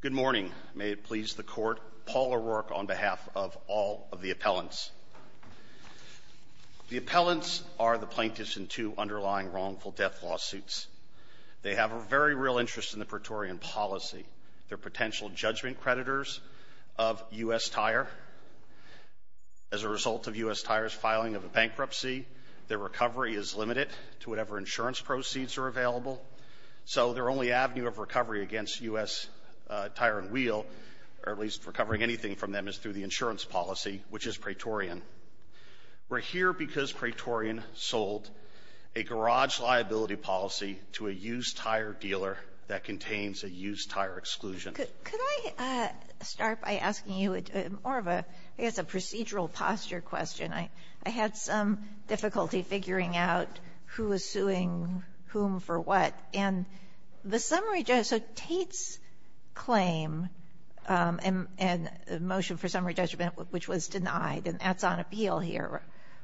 Good morning. May it please the Court, Paul O'Rourke on behalf of all of the appellants. The appellants are the plaintiffs in two underlying wrongful death lawsuits. They have a very real interest in the Praetorian policy. They're potential judgment creditors of U.S. Tire. As a result of U.S. Tire's filing of a bankruptcy, their recovery is limited to whatever insurance proceeds are against U.S. Tire and Wheel, or at least recovering anything from them is through the insurance policy, which is Praetorian. We're here because Praetorian sold a garage liability policy to a used tire dealer that contains a used tire exclusion. Could I start by asking you more of a, I guess, a procedural posture question. I had some difficulty figuring out who was suing whom for what, and the Tate's claim and motion for summary judgment, which was denied, and that's on appeal here,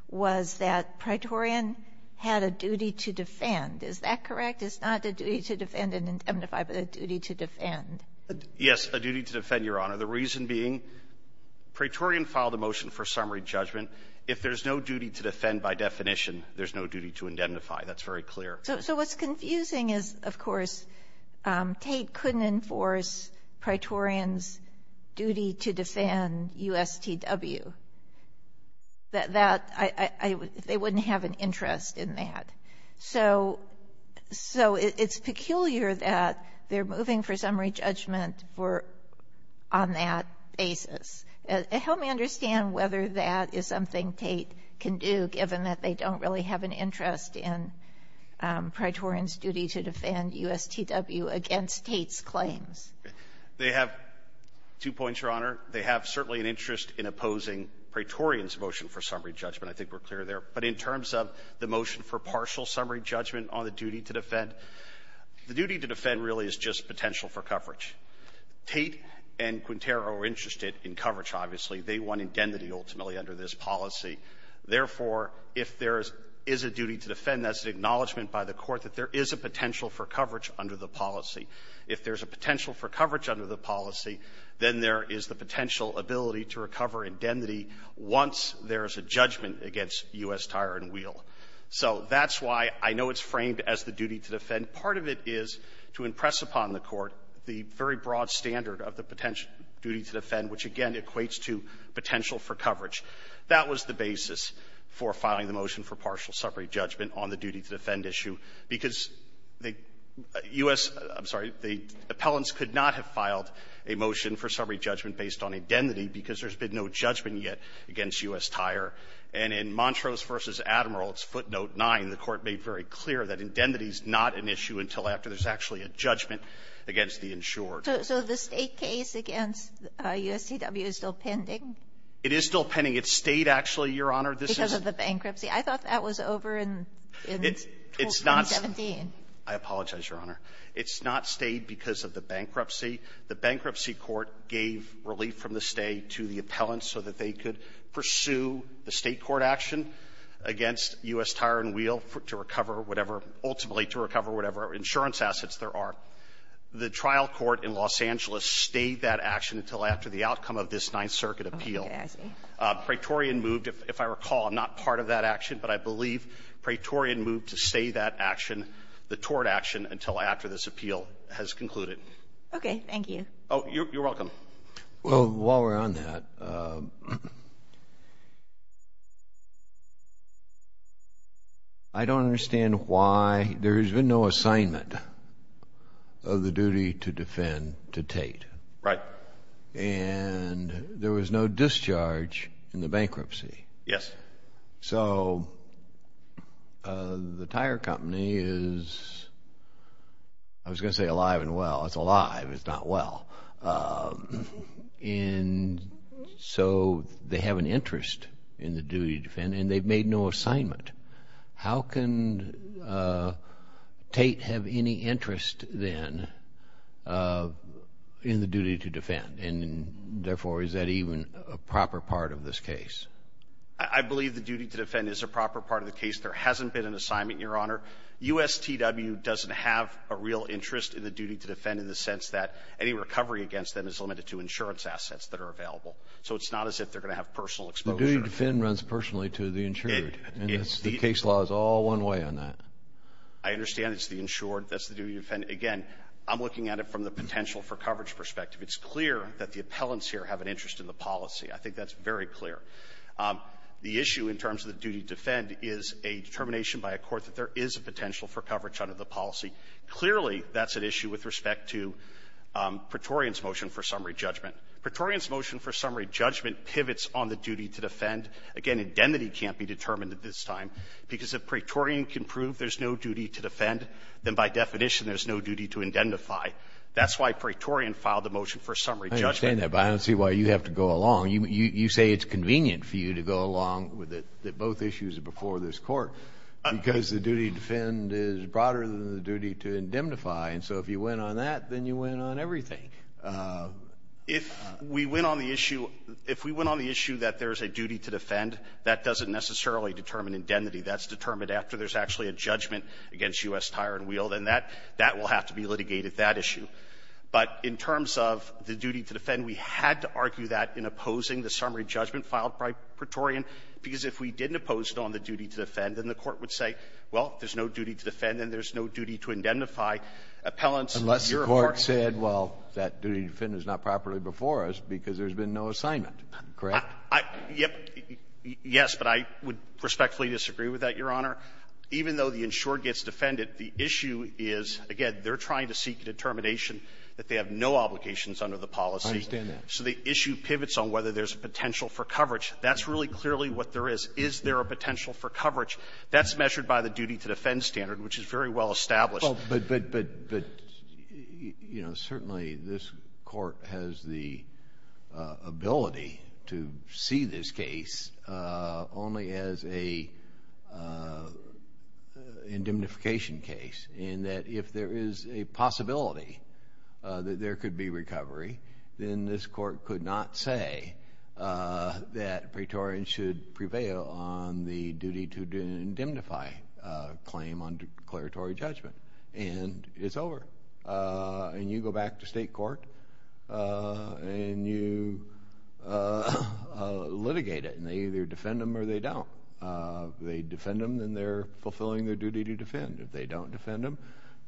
was that Praetorian had a duty to defend. Is that correct? It's not a duty to defend and indemnify, but a duty to defend. Yes, a duty to defend, Your Honor. The reason being, Praetorian filed a motion for summary judgment. If there's no duty to defend by definition, there's no duty to indemnify. That's very clear. So what's confusing is, of course, Tate couldn't enforce Praetorian's duty to defend U.S. T.W. They wouldn't have an interest in that. So it's peculiar that they're moving for summary judgment on that basis. Help me understand whether that is something Tate can do, given that they don't really have an interest in Praetorian's duty to defend U.S. T.W. against Tate's claims. They have two points, Your Honor. They have certainly an interest in opposing Praetorian's motion for summary judgment. I think we're clear there. But in terms of the motion for partial summary judgment on the duty to defend, the duty to defend really is just potential for coverage. Tate and Quintero are interested in coverage, obviously. They want indemnity, ultimately, under this policy. Therefore, if there is a duty to defend, that's an acknowledgment by the Court that there is a potential for coverage under the policy. If there's a potential for coverage under the policy, then there is the potential ability to recover indemnity once there is a judgment against U.S. Tire and Wheel. So that's why I know it's framed as the duty to defend. Part of it is to impress upon the Court the very broad standard of the duty to defend, which, again, equates to potential for coverage. That was the basis for filing the motion for partial summary judgment on the duty to defend issue, because the U.S. — I'm sorry. The appellants could not have filed a motion for summary judgment based on indemnity because there's been no judgment yet against U.S. Tire. And in Montrose v. Admirals, footnote 9, the Court made very clear that indemnity is not an issue until after there's actually a judgment against the insured. So the state case against USCW is still pending? It is still pending. It stayed, actually, Your Honor. Because of the bankruptcy. I thought that was over in 2017. I apologize, Your Honor. It's not stayed because of the bankruptcy. The bankruptcy court gave relief from the state to the appellants so that they could pursue the state court action against U.S. Tire and Wheel to recover whatever — ultimately to recover whatever insurance assets there are. The trial court in Los Angeles stayed that action until after the outcome of this Ninth Circuit appeal. Oh, okay. I see. Praetorian moved — if I recall, I'm not part of that action, but I believe Praetorian moved to stay that action, the tort action, until after this appeal has concluded. Okay. Thank you. Oh, you're welcome. Well, while we're on that, I don't understand why there has been no assignment of the duty to defend to Tate. Right. And there was no discharge in the bankruptcy. Yes. So, the tire company is — I was going to say alive and well. It's alive. It's not well. And so, they have an interest in the duty to defend, and they've made no assignment. How can Tate have any interest, then, in the duty to defend? And therefore, is that even a proper part of this case? I believe the duty to defend is a proper part of the case. There hasn't been an assignment, Your Honor. USTW doesn't have a real interest in the duty to defend in the sense that any recovery against them is limited to insurance assets that are available. So, it's not as if they're going to have personal exposure. The duty to defend runs personally to the insured, and the case law is all one way on that. I understand it's the insured. That's the duty to defend. Again, I'm looking at it from the potential-for-coverage perspective. It's clear that the appellants here have an interest in the policy. I think that's very clear. The issue, in terms of the duty to defend, is a determination by a court that there is a potential-for-coverage under the policy. Clearly, that's an issue with respect to Praetorian's motion for summary judgment. Praetorian's motion for summary judgment pivots on the duty to defend. Again, indemnity can't be determined at this time, because if Praetorian can prove there's no duty to defend, then, by definition, there's no duty to indemnify. That's why Praetorian filed the motion for summary judgment. I understand that, but I don't see why you have to go along. You say it's convenient for you to go along that both issues are before this court, because the duty to defend is broader than the duty to indemnify, and so if you went on that, then you went on everything. If we went on the issue that there's a duty to defend, that doesn't necessarily determine indemnity. That's determined after there's actually a judgment against U.S. Tire and to defend, we had to argue that in opposing the summary judgment filed by Praetorian, because if we didn't oppose it on the duty to defend, then the Court would say, well, there's no duty to defend, and there's no duty to indemnify. Appellants, your argument — Unless the Court said, well, that duty to defend is not properly before us because there's been no assignment, correct? I — yes, but I would respectfully disagree with that, Your Honor. Even though the insurer gets defended, the issue is, again, they're trying to seek a determination that they have no obligations under the policy. I understand that. So the issue pivots on whether there's a potential for coverage. That's really clearly what there is. Is there a potential for coverage? That's measured by the duty to defend standard, which is very well established. But, you know, certainly this Court has the ability to see this case only as a indemnification case, in that if there is a possibility that there could be recovery, then this Court could not say that Praetorians should prevail on the duty to indemnify claim under declaratory judgment, and it's over. And you go back to state court, and you litigate it, and they either defend them or they don't. If they defend them, then they're fulfilling their obligation. If they don't defend them,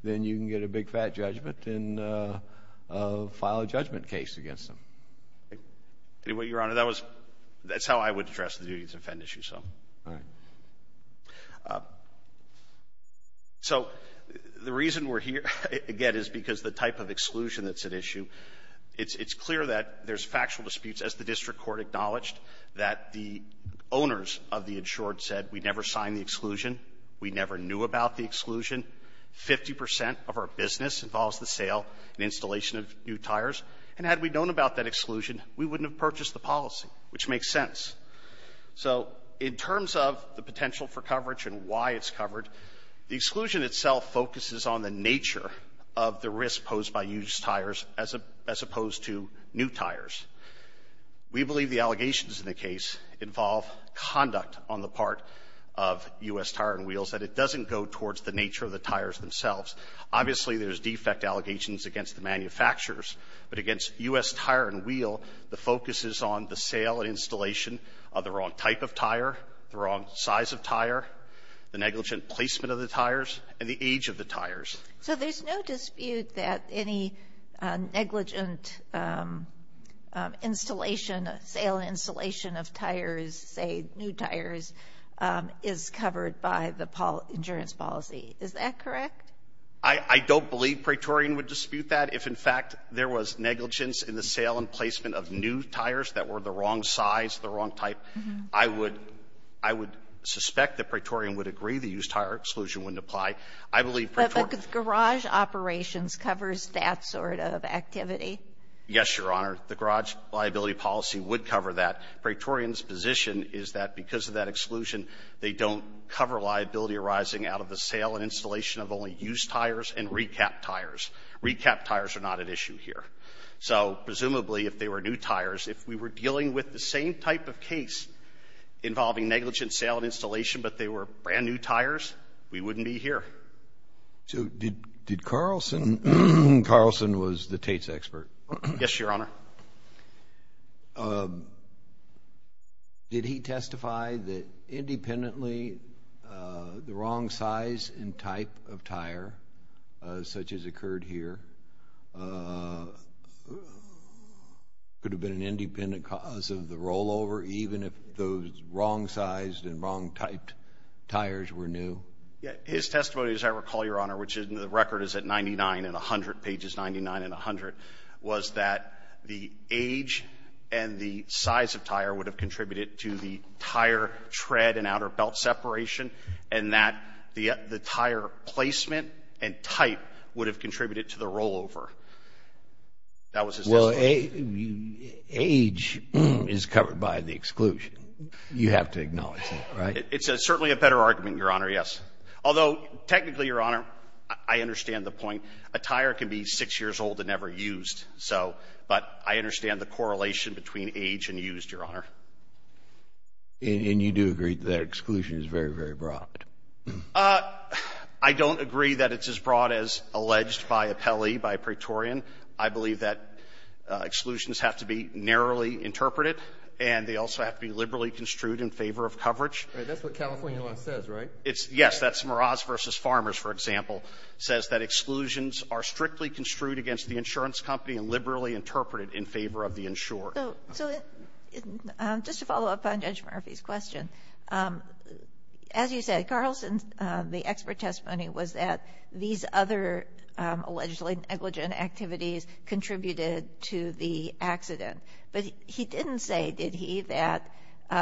then you can get a big, fat judgment and file a judgment case against them. Anyway, Your Honor, that was — that's how I would address the duty to defend issue. All right. So the reason we're here, again, is because the type of exclusion that's at issue. It's clear that there's factual disputes, as the district court acknowledged, that the exclusion, 50 percent of our business involves the sale and installation of new tires. And had we known about that exclusion, we wouldn't have purchased the policy, which makes sense. So in terms of the potential for coverage and why it's covered, the exclusion itself focuses on the nature of the risk posed by used tires as opposed to new tires. We believe the allegations in the case involve conduct on the part of U.S. Tire and Wheels, that doesn't go towards the nature of the tires themselves. Obviously, there's defect allegations against the manufacturers. But against U.S. Tire and Wheel, the focus is on the sale and installation of the wrong type of tire, the wrong size of tire, the negligent placement of the tires, and the age of the tires. So there's no dispute that any negligent installation, sale and installation of tires, say new tires, is covered by the insurance policy. Is that correct? I don't believe Praetorian would dispute that. If, in fact, there was negligence in the sale and placement of new tires that were the wrong size, the wrong type, I would suspect that Praetorian would agree the used tire exclusion wouldn't apply. I believe Praetorian But garage operations covers that sort of activity. Yes, Your Honor. The garage liability policy would cover that. Praetorian's position is that because of that exclusion, they don't cover liability arising out of the sale and installation of only used tires and recapped tires. Recapped tires are not at issue here. So presumably if they were new tires, if we were dealing with the same type of case involving negligent sale and installation but they were brand new tires, we wouldn't be here. So did Carlson, Carlson was the Tate's expert. Yes, Your Honor. Did he testify that independently the wrong size and type of tire such as occurred here could have been an independent cause of the rollover even if those wrong sized and wrong typed tires were new? His testimony, as I recall, Your Honor, which the record is at 99 and 100 pages, 99 and 100, was that the age and the size of tire would have contributed to the tire tread and outer belt separation and that the tire placement and type would have contributed to the rollover. That was his testimony. Age is covered by the exclusion. You have to acknowledge that, right? It's certainly a better argument, Your Honor, yes. Although technically, Your Honor, I understand the point. A tire can be 6 years old and never used, so, but I understand the correlation between age and used, Your Honor. And you do agree that exclusion is very, very broad? I don't agree that it's as broad as alleged by Appelli, by Praetorian. I believe that exclusions have to be narrowly interpreted and they also have to be liberally construed in favor of coverage. That's what California law says, right? Yes, that's Meraz v. Farmers, for example, says that exclusions are strictly construed against the insurance company and liberally interpreted in favor of the insured. So just to follow up on Judge Murphy's question, as you said, Carlson's, the expert testimony was that these other allegedly negligent activities contributed to the accident. But he didn't say, did he, that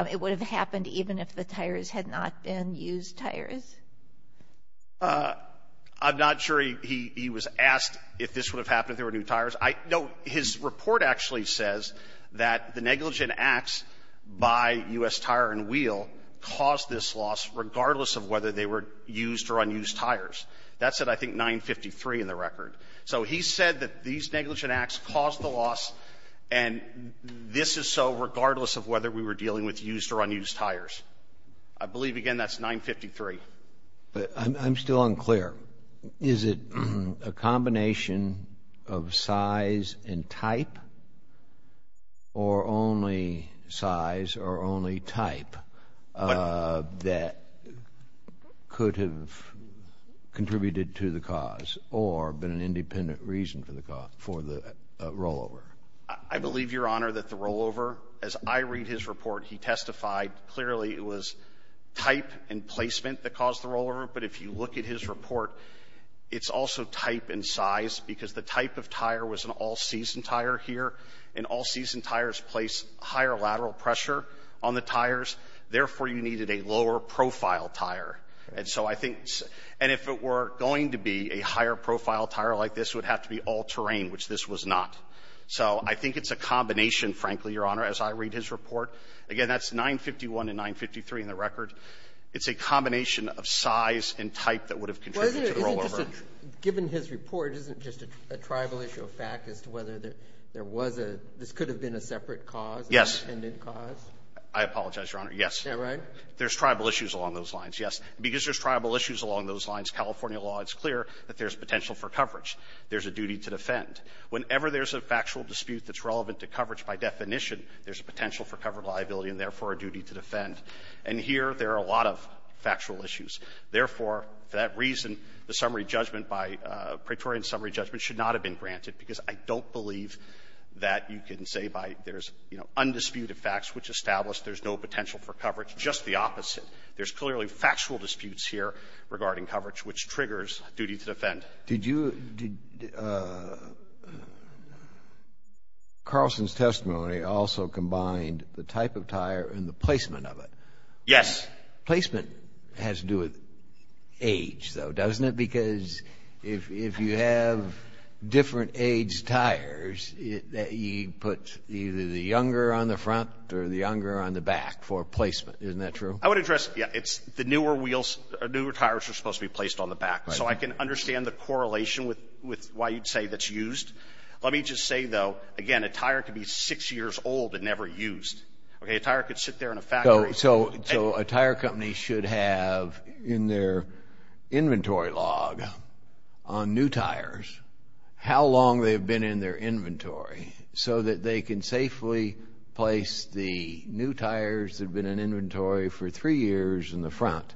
it would have happened even if the tires had not been used tires? I'm not sure he was asked if this would have happened if there were new tires. No, his report actually says that the negligent acts by U.S. Tire and Wheel caused this loss regardless of whether they were used or unused tires. That's at, I think, 953 in the This is so regardless of whether we were dealing with used or unused tires. I believe, again, that's 953. But I'm still unclear. Is it a combination of size and type or only size or only type that could have contributed to the cause or been an independent reason for the cause, for the rollover? I believe, Your Honor, that the rollover, as I read his report, he testified clearly it was type and placement that caused the rollover. But if you look at his report, it's also type and size because the type of tire was an all-season tire here. And all-season tires place higher lateral pressure on the tires. Therefore, you needed a lower-profile tire. And so I think, and if it were going to be a higher-profile tire like this, it I think it's a combination, frankly, Your Honor, as I read his report. Again, that's 951 and 953 in the record. It's a combination of size and type that would have contributed to the rollover. Given his report, isn't it just a tribal issue of fact as to whether there was a — this could have been a separate cause, an independent cause? Yes. I apologize, Your Honor. Yes. Is that right? There's tribal issues along those lines, yes. Because there's tribal issues along those lines, California law is clear that there's potential for coverage. There's a duty to defend. Whenever there's a factual dispute that's relevant to coverage by definition, there's a potential for covered liability and therefore a duty to defend. And here, there are a lot of factual issues. Therefore, for that reason, the summary judgment by — Praetorian summary judgment should not have been granted because I don't believe that you can say by there's undisputed facts which establish there's no potential for coverage. Just the opposite. Did you — Carlson's testimony also combined the type of tire and the placement of it. Yes. Placement has to do with age, though, doesn't it? Because if you have different age tires, you put either the younger on the front or the younger on the back for placement. Isn't that true? I would address — yeah, it's the newer wheels — newer tires are supposed to be a correlation with why you'd say that's used. Let me just say, though, again, a tire could be six years old and never used. Okay? A tire could sit there in a factory — So a tire company should have in their inventory log on new tires how long they've been in their inventory so that they can safely place the new tires that have been in inventory for three years in the front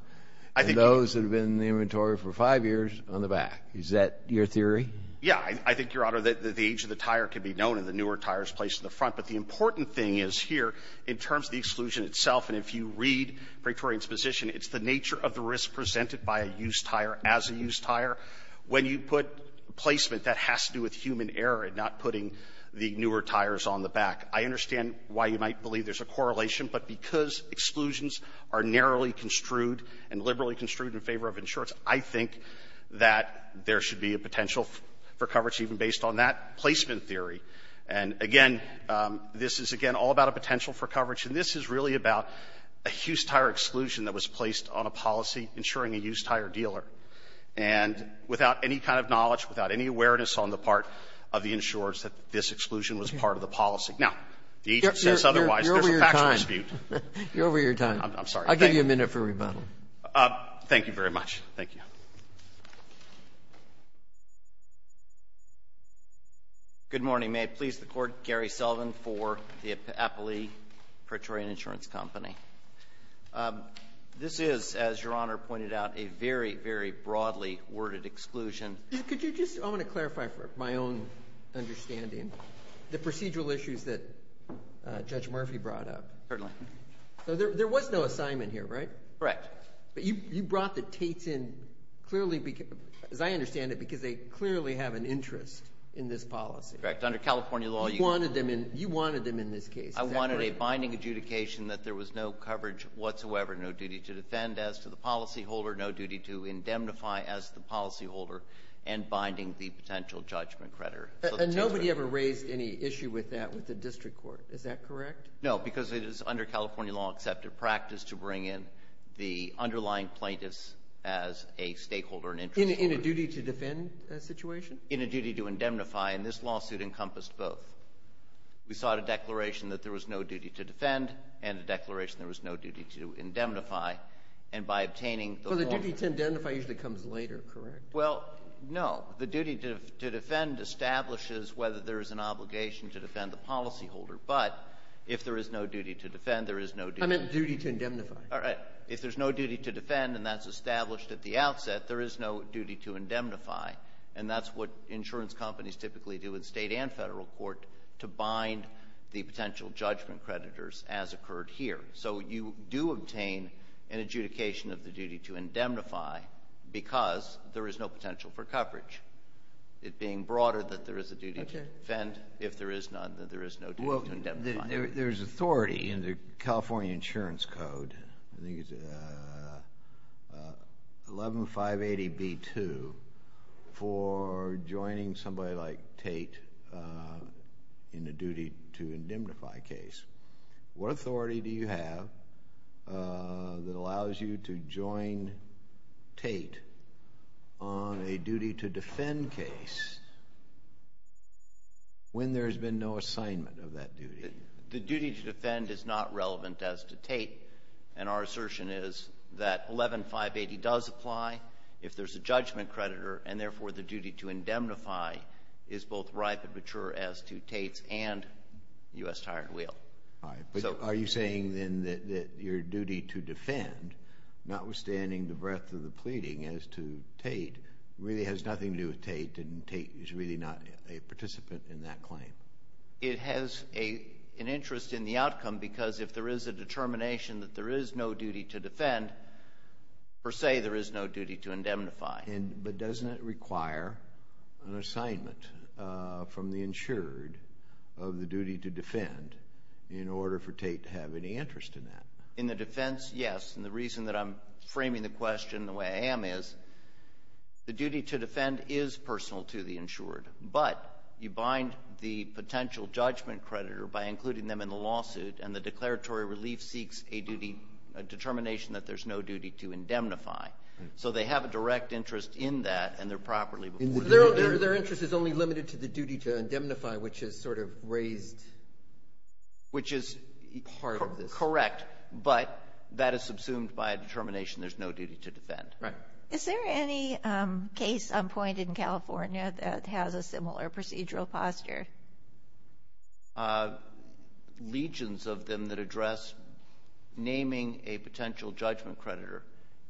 and those that have been in the inventory for five years on the back. Is that your theory? Yeah. I think, Your Honor, that the age of the tire could be known and the newer tires placed in the front. But the important thing is here, in terms of the exclusion itself, and if you read Praetorian's position, it's the nature of the risk presented by a used tire as a used tire. When you put placement, that has to do with human error in not putting the newer tires on the back. I understand why you might believe there's a correlation, but because exclusions are narrowly construed and liberally construed in favor of insurers, I think that there should be a potential for coverage even based on that placement theory. And, again, this is, again, all about a potential for coverage, and this is really about a used tire exclusion that was placed on a policy insuring a used tire dealer. And without any kind of knowledge, without any awareness on the part of the insurers that this exclusion was part of the policy. Now, the agent says otherwise. You're over your time. There's a factual dispute. You're over your time. I'm sorry. I'll give you a minute for rebuttal. Thank you very much. Thank you. Good morning. May it please the Court, Gary Sullivan for the Appley Praetorian Insurance Company. This is, as Your Honor pointed out, a very, very broadly worded exclusion. Could you just, I want to clarify for my own understanding the procedural issues that Judge Murphy brought up. Certainly. There was no assignment here, right? Correct. But you brought the Tates in, as I understand it, because they clearly have an interest in this policy. Correct. Under California law, you wanted them in this case. I wanted a binding adjudication that there was no coverage whatsoever, no duty to defend as to the policyholder, no duty to indemnify as the policyholder, and binding the potential judgment credit. And nobody ever raised any issue with that with the district court. Is that correct? No, because it is under California law accepted practice to bring in the underlying plaintiffs as a stakeholder and interest holder. In a duty to defend situation? In a duty to indemnify, and this lawsuit encompassed both. We sought a declaration that there was no duty to defend and a declaration there was no duty to indemnify, and by obtaining the law… Well, the duty to indemnify usually comes later, correct? Well, no. The duty to defend establishes whether there is an obligation to defend the policyholder. But if there is no duty to defend, there is no duty… I meant duty to indemnify. All right. If there's no duty to defend and that's established at the outset, there is no duty to indemnify, and that's what insurance companies typically do in state and federal court to bind the potential judgment creditors as occurred here. So you do obtain an adjudication of the duty to indemnify because there is no potential for coverage. It being broader that there is a duty to defend, if there is none, then there is no duty to indemnify. Well, there's authority in the California Insurance Code, I think it's 11580B2, for joining somebody like Tate in a duty to indemnify case. What authority do you have that allows you to join Tate on a duty to defend case when there has been no assignment of that duty? The duty to defend is not relevant as to Tate, and our assertion is that 11580 does apply if there's a judgment creditor, and therefore the duty to indemnify is both ripe and mature as to Tate's and U.S. Tire and Wheel. Are you saying then that your duty to defend, notwithstanding the breadth of the pleading as to Tate, really has nothing to do with Tate and Tate is really not a participant in that claim? It has an interest in the outcome because if there is a determination that there is no duty to defend, per se there is no duty to indemnify. But doesn't it require an assignment from the insured of the duty to defend in order for Tate to have any interest in that? In the defense, yes, and the reason that I'm framing the question the way I am is, the duty to defend is personal to the insured, but you bind the potential judgment creditor by including them in the lawsuit, and the declaratory relief seeks a determination that there's no duty to indemnify. So they have a direct interest in that, and they're properly— Their interest is only limited to the duty to indemnify, which is sort of raised— Which is correct, but that is subsumed by a determination there's no duty to defend. Is there any case on point in California that has a similar procedural posture? Legions of them that address naming a potential judgment creditor,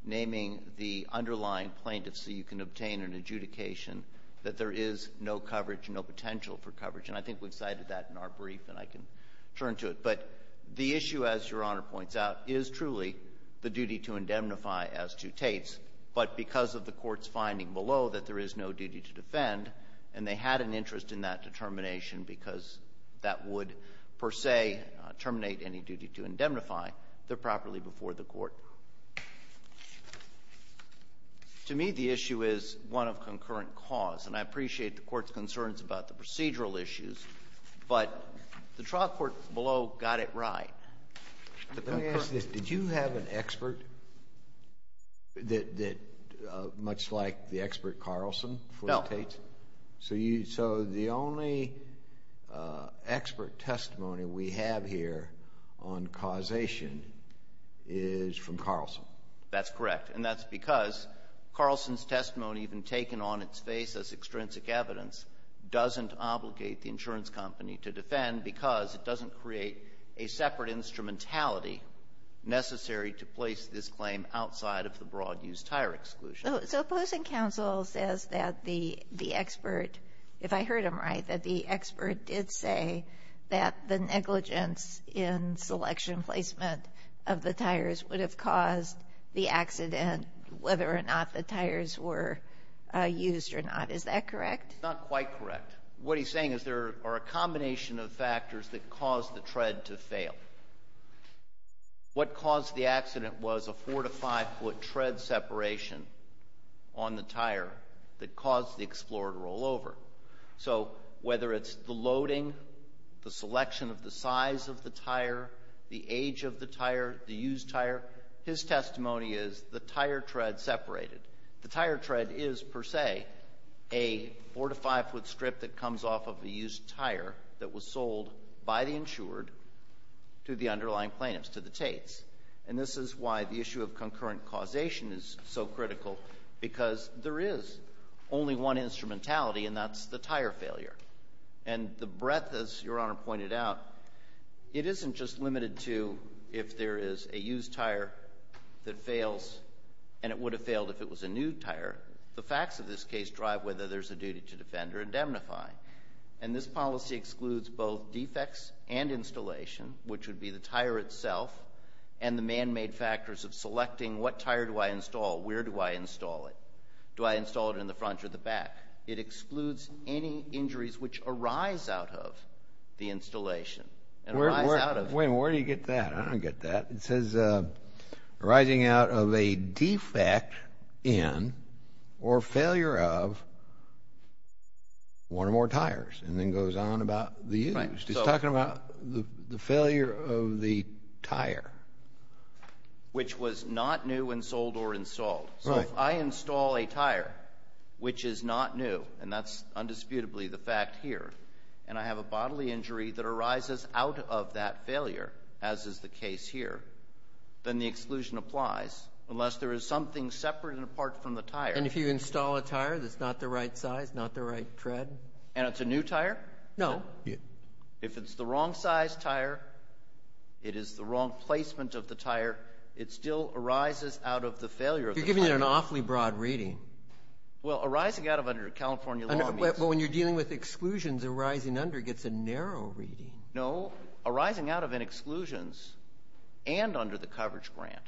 naming the underlying plaintiff so you can obtain an adjudication that there is no coverage, no potential for coverage, and I think we've cited that in our brief, and I can turn to it. But the issue, as Your Honor points out, is truly the duty to indemnify as to Tate's, but because of the court's finding below that there is no duty to defend, and they had an interest in that determination because that would, per se, terminate any duty to indemnify, they're properly before the court. To me, the issue is one of concurrent cause, and I appreciate the court's concerns about the procedural issues, but the trial court below got it right. Let me ask this. Did you have an expert that—much like the expert Carlson for Tate's? No. So the only expert testimony we have here on causation is from Carlson? That's correct, and that's because Carlson's testimony, even taken on its face as extrinsic evidence, doesn't obligate the insurance company to defend because it doesn't create a separate instrumentality necessary to place this claim outside of the broad-use tire exclusion. So opposing counsel says that the expert, if I heard him right, that the expert did say that the negligence in selection placement of the tires would have caused the accident whether or not the tires were used or not. Is that correct? Not quite correct. What he's saying is there are a combination of factors that caused the tread to fail. What caused the accident was a four- to five-foot tread separation on the tire that caused the Explorer to roll over. So whether it's the loading, the selection of the size of the tire, the age of the tire, the used tire, his testimony is the tire tread separated. The tire tread is, per se, a four- to five-foot strip that comes off of the used tire that was sold by the insured to the underlying plaintiffs, to the Tates. And this is why the issue of concurrent causation is so critical because there is only one instrumentality, and that's the tire failure. And the breadth, as Your Honor pointed out, it isn't just limited to if there is a used tire that fails and it would have failed if it was a new tire. The facts of this case drive whether there's a duty to defend or indemnify. And this policy excludes both defects and installation, which would be the tire itself and the man-made factors of selecting what tire do I install, where do I install it, do I install it in the front or the back. It excludes any injuries which arise out of the installation and arise out of it. Wait a minute. Where do you get that? I don't get that. It says arising out of a defect in or failure of one or more tires and then goes on about the used. He's talking about the failure of the tire. Which was not new and sold or installed. So if I install a tire which is not new, and that's undisputably the fact here, and I have a bodily injury that arises out of that failure, as is the case here, then the exclusion applies unless there is something separate and apart from the tire. And if you install a tire that's not the right size, not the right tread? And it's a new tire? No. If it's the wrong size tire, it is the wrong placement of the tire, it still arises out of the failure of the tire. You're giving an awfully broad reading. Well, arising out of under California law means. Well, when you're dealing with exclusions arising under, it gets a narrow reading. No. Arising out of an exclusions and under the coverage grant.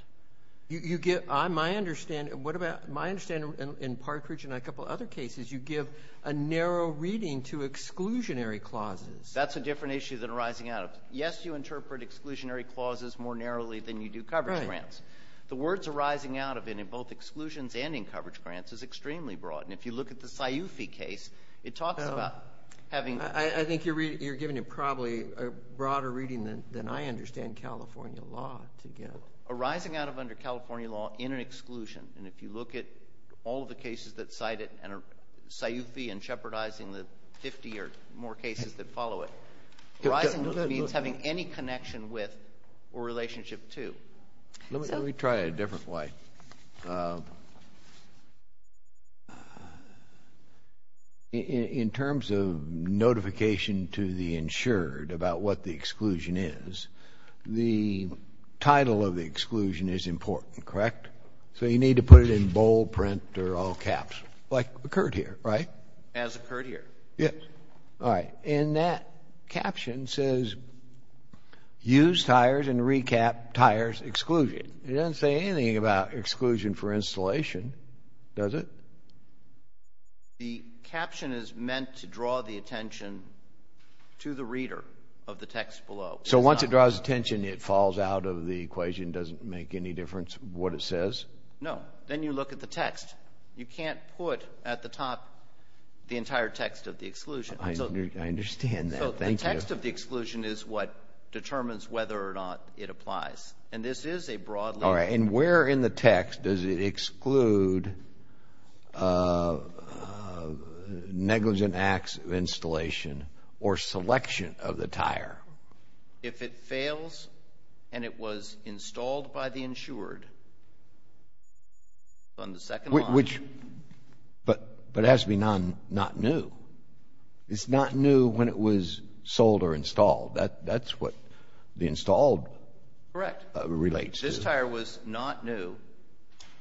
My understanding in Partridge and a couple of other cases, you give a narrow reading to exclusionary clauses. That's a different issue than arising out of. Yes, you interpret exclusionary clauses more narrowly than you do coverage grants. The words arising out of in both exclusions and in coverage grants is extremely broad. And if you look at the Sciufi case, it talks about having. I think you're giving it probably a broader reading than I understand California law to give. Arising out of under California law in an exclusion, and if you look at all of the cases that cite it and Sciufi and shepherdizing the 50 or more cases that follow it, arising means having any connection with or relationship to. Let me try it a different way. In terms of notification to the insured about what the exclusion is, the title of the exclusion is important, correct? So you need to put it in bold print or all caps, like occurred here, right? As occurred here. Yes. All right. And that caption says use tires and recap tires exclusion. It doesn't say anything about exclusion for installation, does it? The caption is meant to draw the attention to the reader of the text below. So once it draws attention, it falls out of the equation, doesn't make any difference what it says? No. Then you look at the text. You can't put at the top the entire text of the exclusion. I understand that. Thank you. So the text of the exclusion is what determines whether or not it applies. And this is a broad layer. All right. And where in the text does it exclude negligent acts of installation or selection of the tire? If it fails and it was installed by the insured on the second line. But it has to be not new. It's not new when it was sold or installed. That's what the installed relates to. Correct. This tire was not new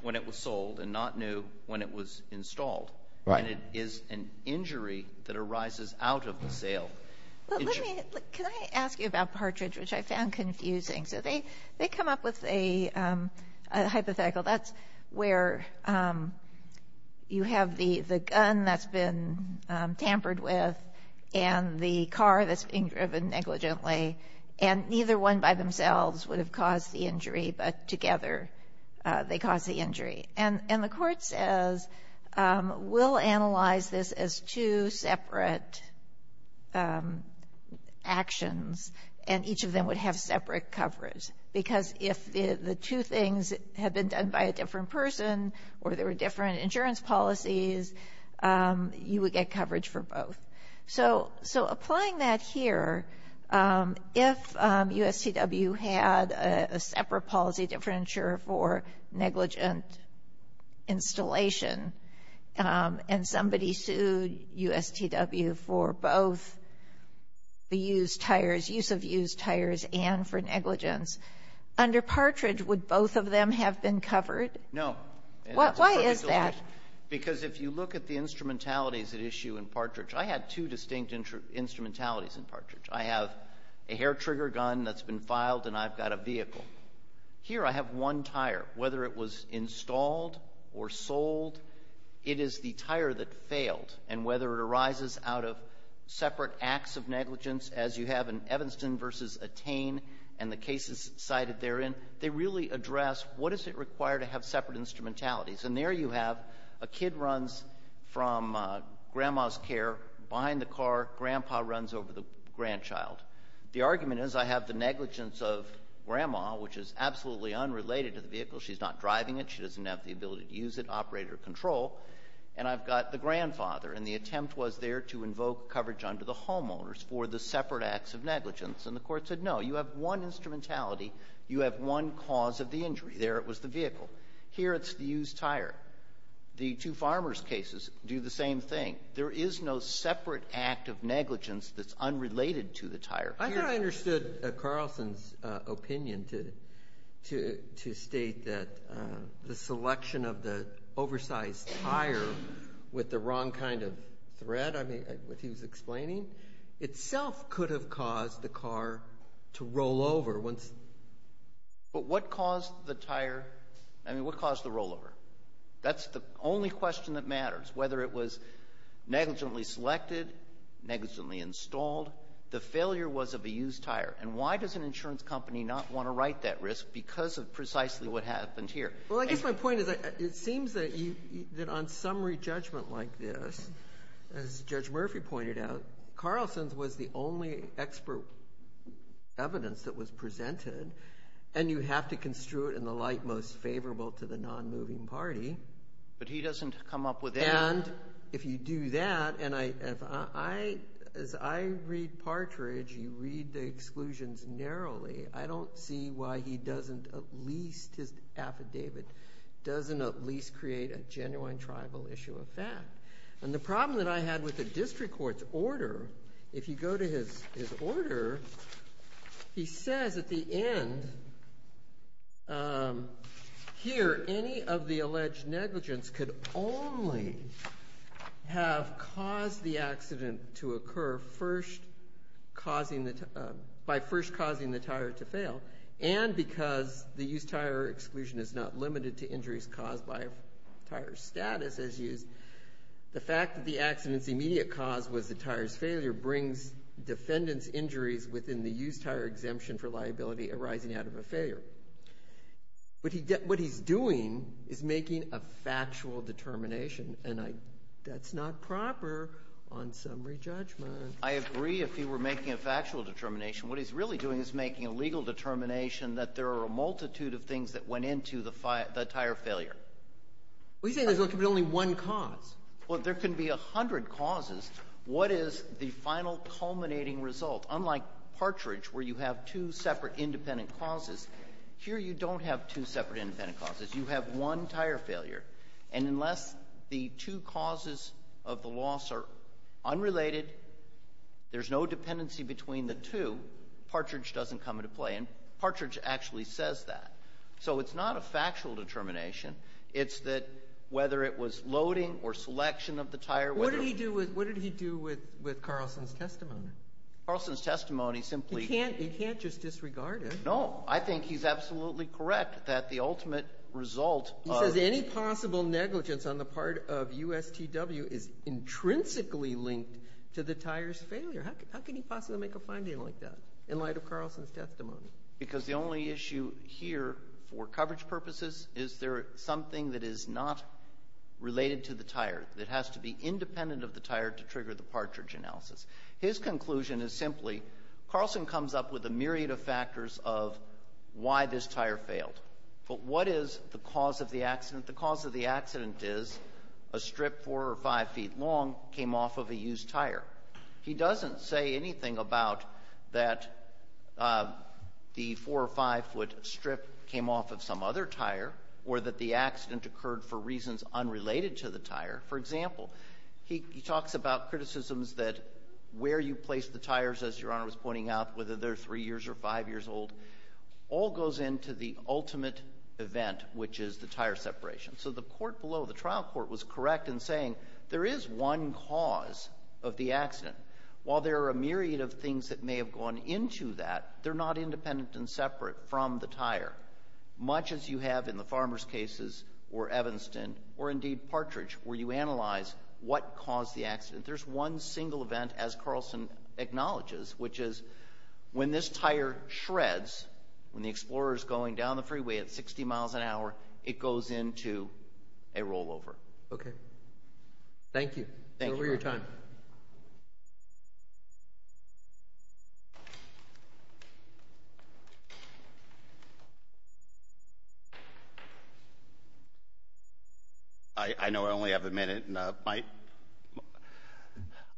when it was sold and not new when it was installed. Right. And it is an injury that arises out of the sale. Can I ask you about Partridge, which I found confusing? So they come up with a hypothetical. That's where you have the gun that's been tampered with and the car that's been driven negligently. And neither one by themselves would have caused the injury, but together they caused the injury. And the court says we'll analyze this as two separate actions, and each of them would have separate coverage. Because if the two things had been done by a different person or there were different insurance policies, you would get coverage for both. So applying that here, if USTW had a separate policy differential for negligent installation and somebody sued USTW for both the use of used tires and for negligence, under Partridge would both of them have been covered? No. Why is that? Because if you look at the instrumentalities at issue in Partridge, I had two distinct instrumentalities in Partridge. I have a hair trigger gun that's been filed, and I've got a vehicle. Here I have one tire. Whether it was installed or sold, it is the tire that failed. And whether it arises out of separate acts of negligence, as you have in Evanston v. Attain and the cases cited therein, they really address what is it required to have separate instrumentalities. And there you have a kid runs from grandma's care behind the car. Grandpa runs over the grandchild. The argument is I have the negligence of grandma, which is absolutely unrelated to the vehicle. She's not driving it. She doesn't have the ability to use it, operate it, or control. And I've got the grandfather, and the attempt was there to invoke coverage under the homeowners for the separate acts of negligence. And the court said, no, you have one instrumentality. You have one cause of the injury. There it was, the vehicle. Here it's the used tire. The two farmers' cases do the same thing. There is no separate act of negligence that's unrelated to the tire. I think I understood Carlson's opinion to state that the selection of the oversized tire with the wrong kind of thread, what he was explaining, itself could have caused the car to roll over. But what caused the tire? I mean, what caused the rollover? That's the only question that matters, whether it was negligently selected, negligently installed. The failure was of a used tire. And why does an insurance company not want to right that risk because of precisely what happened here? Well, I guess my point is it seems that on summary judgment like this, as Judge Murphy pointed out, Carlson's was the only expert evidence that was presented. And you have to construe it in the light most favorable to the non-moving party. But he doesn't come up with any. And if you do that, and as I read Partridge, you read the exclusions narrowly. I don't see why he doesn't at least, his affidavit doesn't at least create a genuine tribal issue of that. And the problem that I had with the district court's order, if you go to his order, he says at the end, here, any of the alleged negligence could only have caused the accident to occur by first causing the tire to fail. And because the used tire exclusion is not limited to injuries caused by a tire's status as used, the fact that the accident's immediate cause was the tire's failure brings defendant's injuries within the used tire exemption for liability arising out of a failure. What he's doing is making a factual determination. And that's not proper on summary judgment. I agree if he were making a factual determination. What he's really doing is making a legal determination that there are a multitude of things that went into the tire failure. Well, you say there can be only one cause. Well, there can be a hundred causes. What is the final culminating result? Unlike Partridge, where you have two separate independent causes, here you don't have two separate independent causes. You have one tire failure. And unless the two causes of the loss are unrelated, there's no dependency between the two, Partridge doesn't come into play. And Partridge actually says that. So it's not a factual determination. It's that whether it was loading or selection of the tire. What did he do with Carlson's testimony? Carlson's testimony simply... You can't just disregard it. I think he's absolutely correct that the ultimate result of... He says any possible negligence on the part of USTW is intrinsically linked to the tire's failure. How can he possibly make a finding like that in light of Carlson's testimony? Because the only issue here for coverage purposes is there something that is not related to the tire, that has to be independent of the tire to trigger the Partridge analysis. His conclusion is simply Carlson comes up with a myriad of factors of why this tire failed. But what is the cause of the accident? The cause of the accident is a strip four or five feet long came off of a used tire. He doesn't say anything about that the four or five foot strip came off of some other tire, or that the accident occurred for reasons unrelated to the tire. For example, he talks about criticisms that where you place the tires, as Your Honor was pointing out, whether they're three years or five years old, all goes into the ultimate event, which is the tire separation. So the court below, the trial court, was correct in saying there is one cause of the accident. While there are a myriad of things that may have gone into that, they're not independent and separate from the tire, much as you have in the Farmer's cases, or Evanston, or indeed Partridge, where you analyze what caused the accident. There's one single event, as Carlson acknowledges, which is when this tire shreds, when the Explorer is going down the freeway at 60 miles an hour, it goes into a rollover. Okay. Thank you. Thank you, Your Honor. It's over your time. Thank you. I know I only have a minute.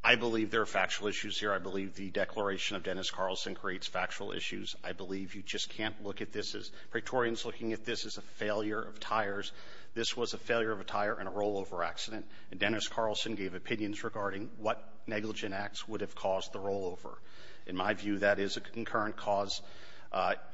I believe there are factual issues here. I believe the declaration of Dennis Carlson creates factual issues. I believe you just can't look at this as – Praetorians looking at this as a failure of tires. This was a failure of a tire in a rollover accident, and Dennis Carlson gave opinions regarding what negligent acts would have caused the rollover. In my view, that is a concurrent cause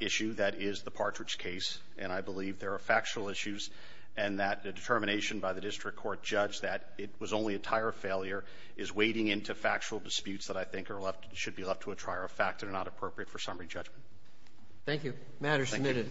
issue that is the Partridge case, and I believe there are factual issues and that the determination by the district court judge that it was only a tire failure is wading into factual disputes that I think should be left to a trier of fact and are not appropriate for summary judgment. Thank you. The matter is submitted.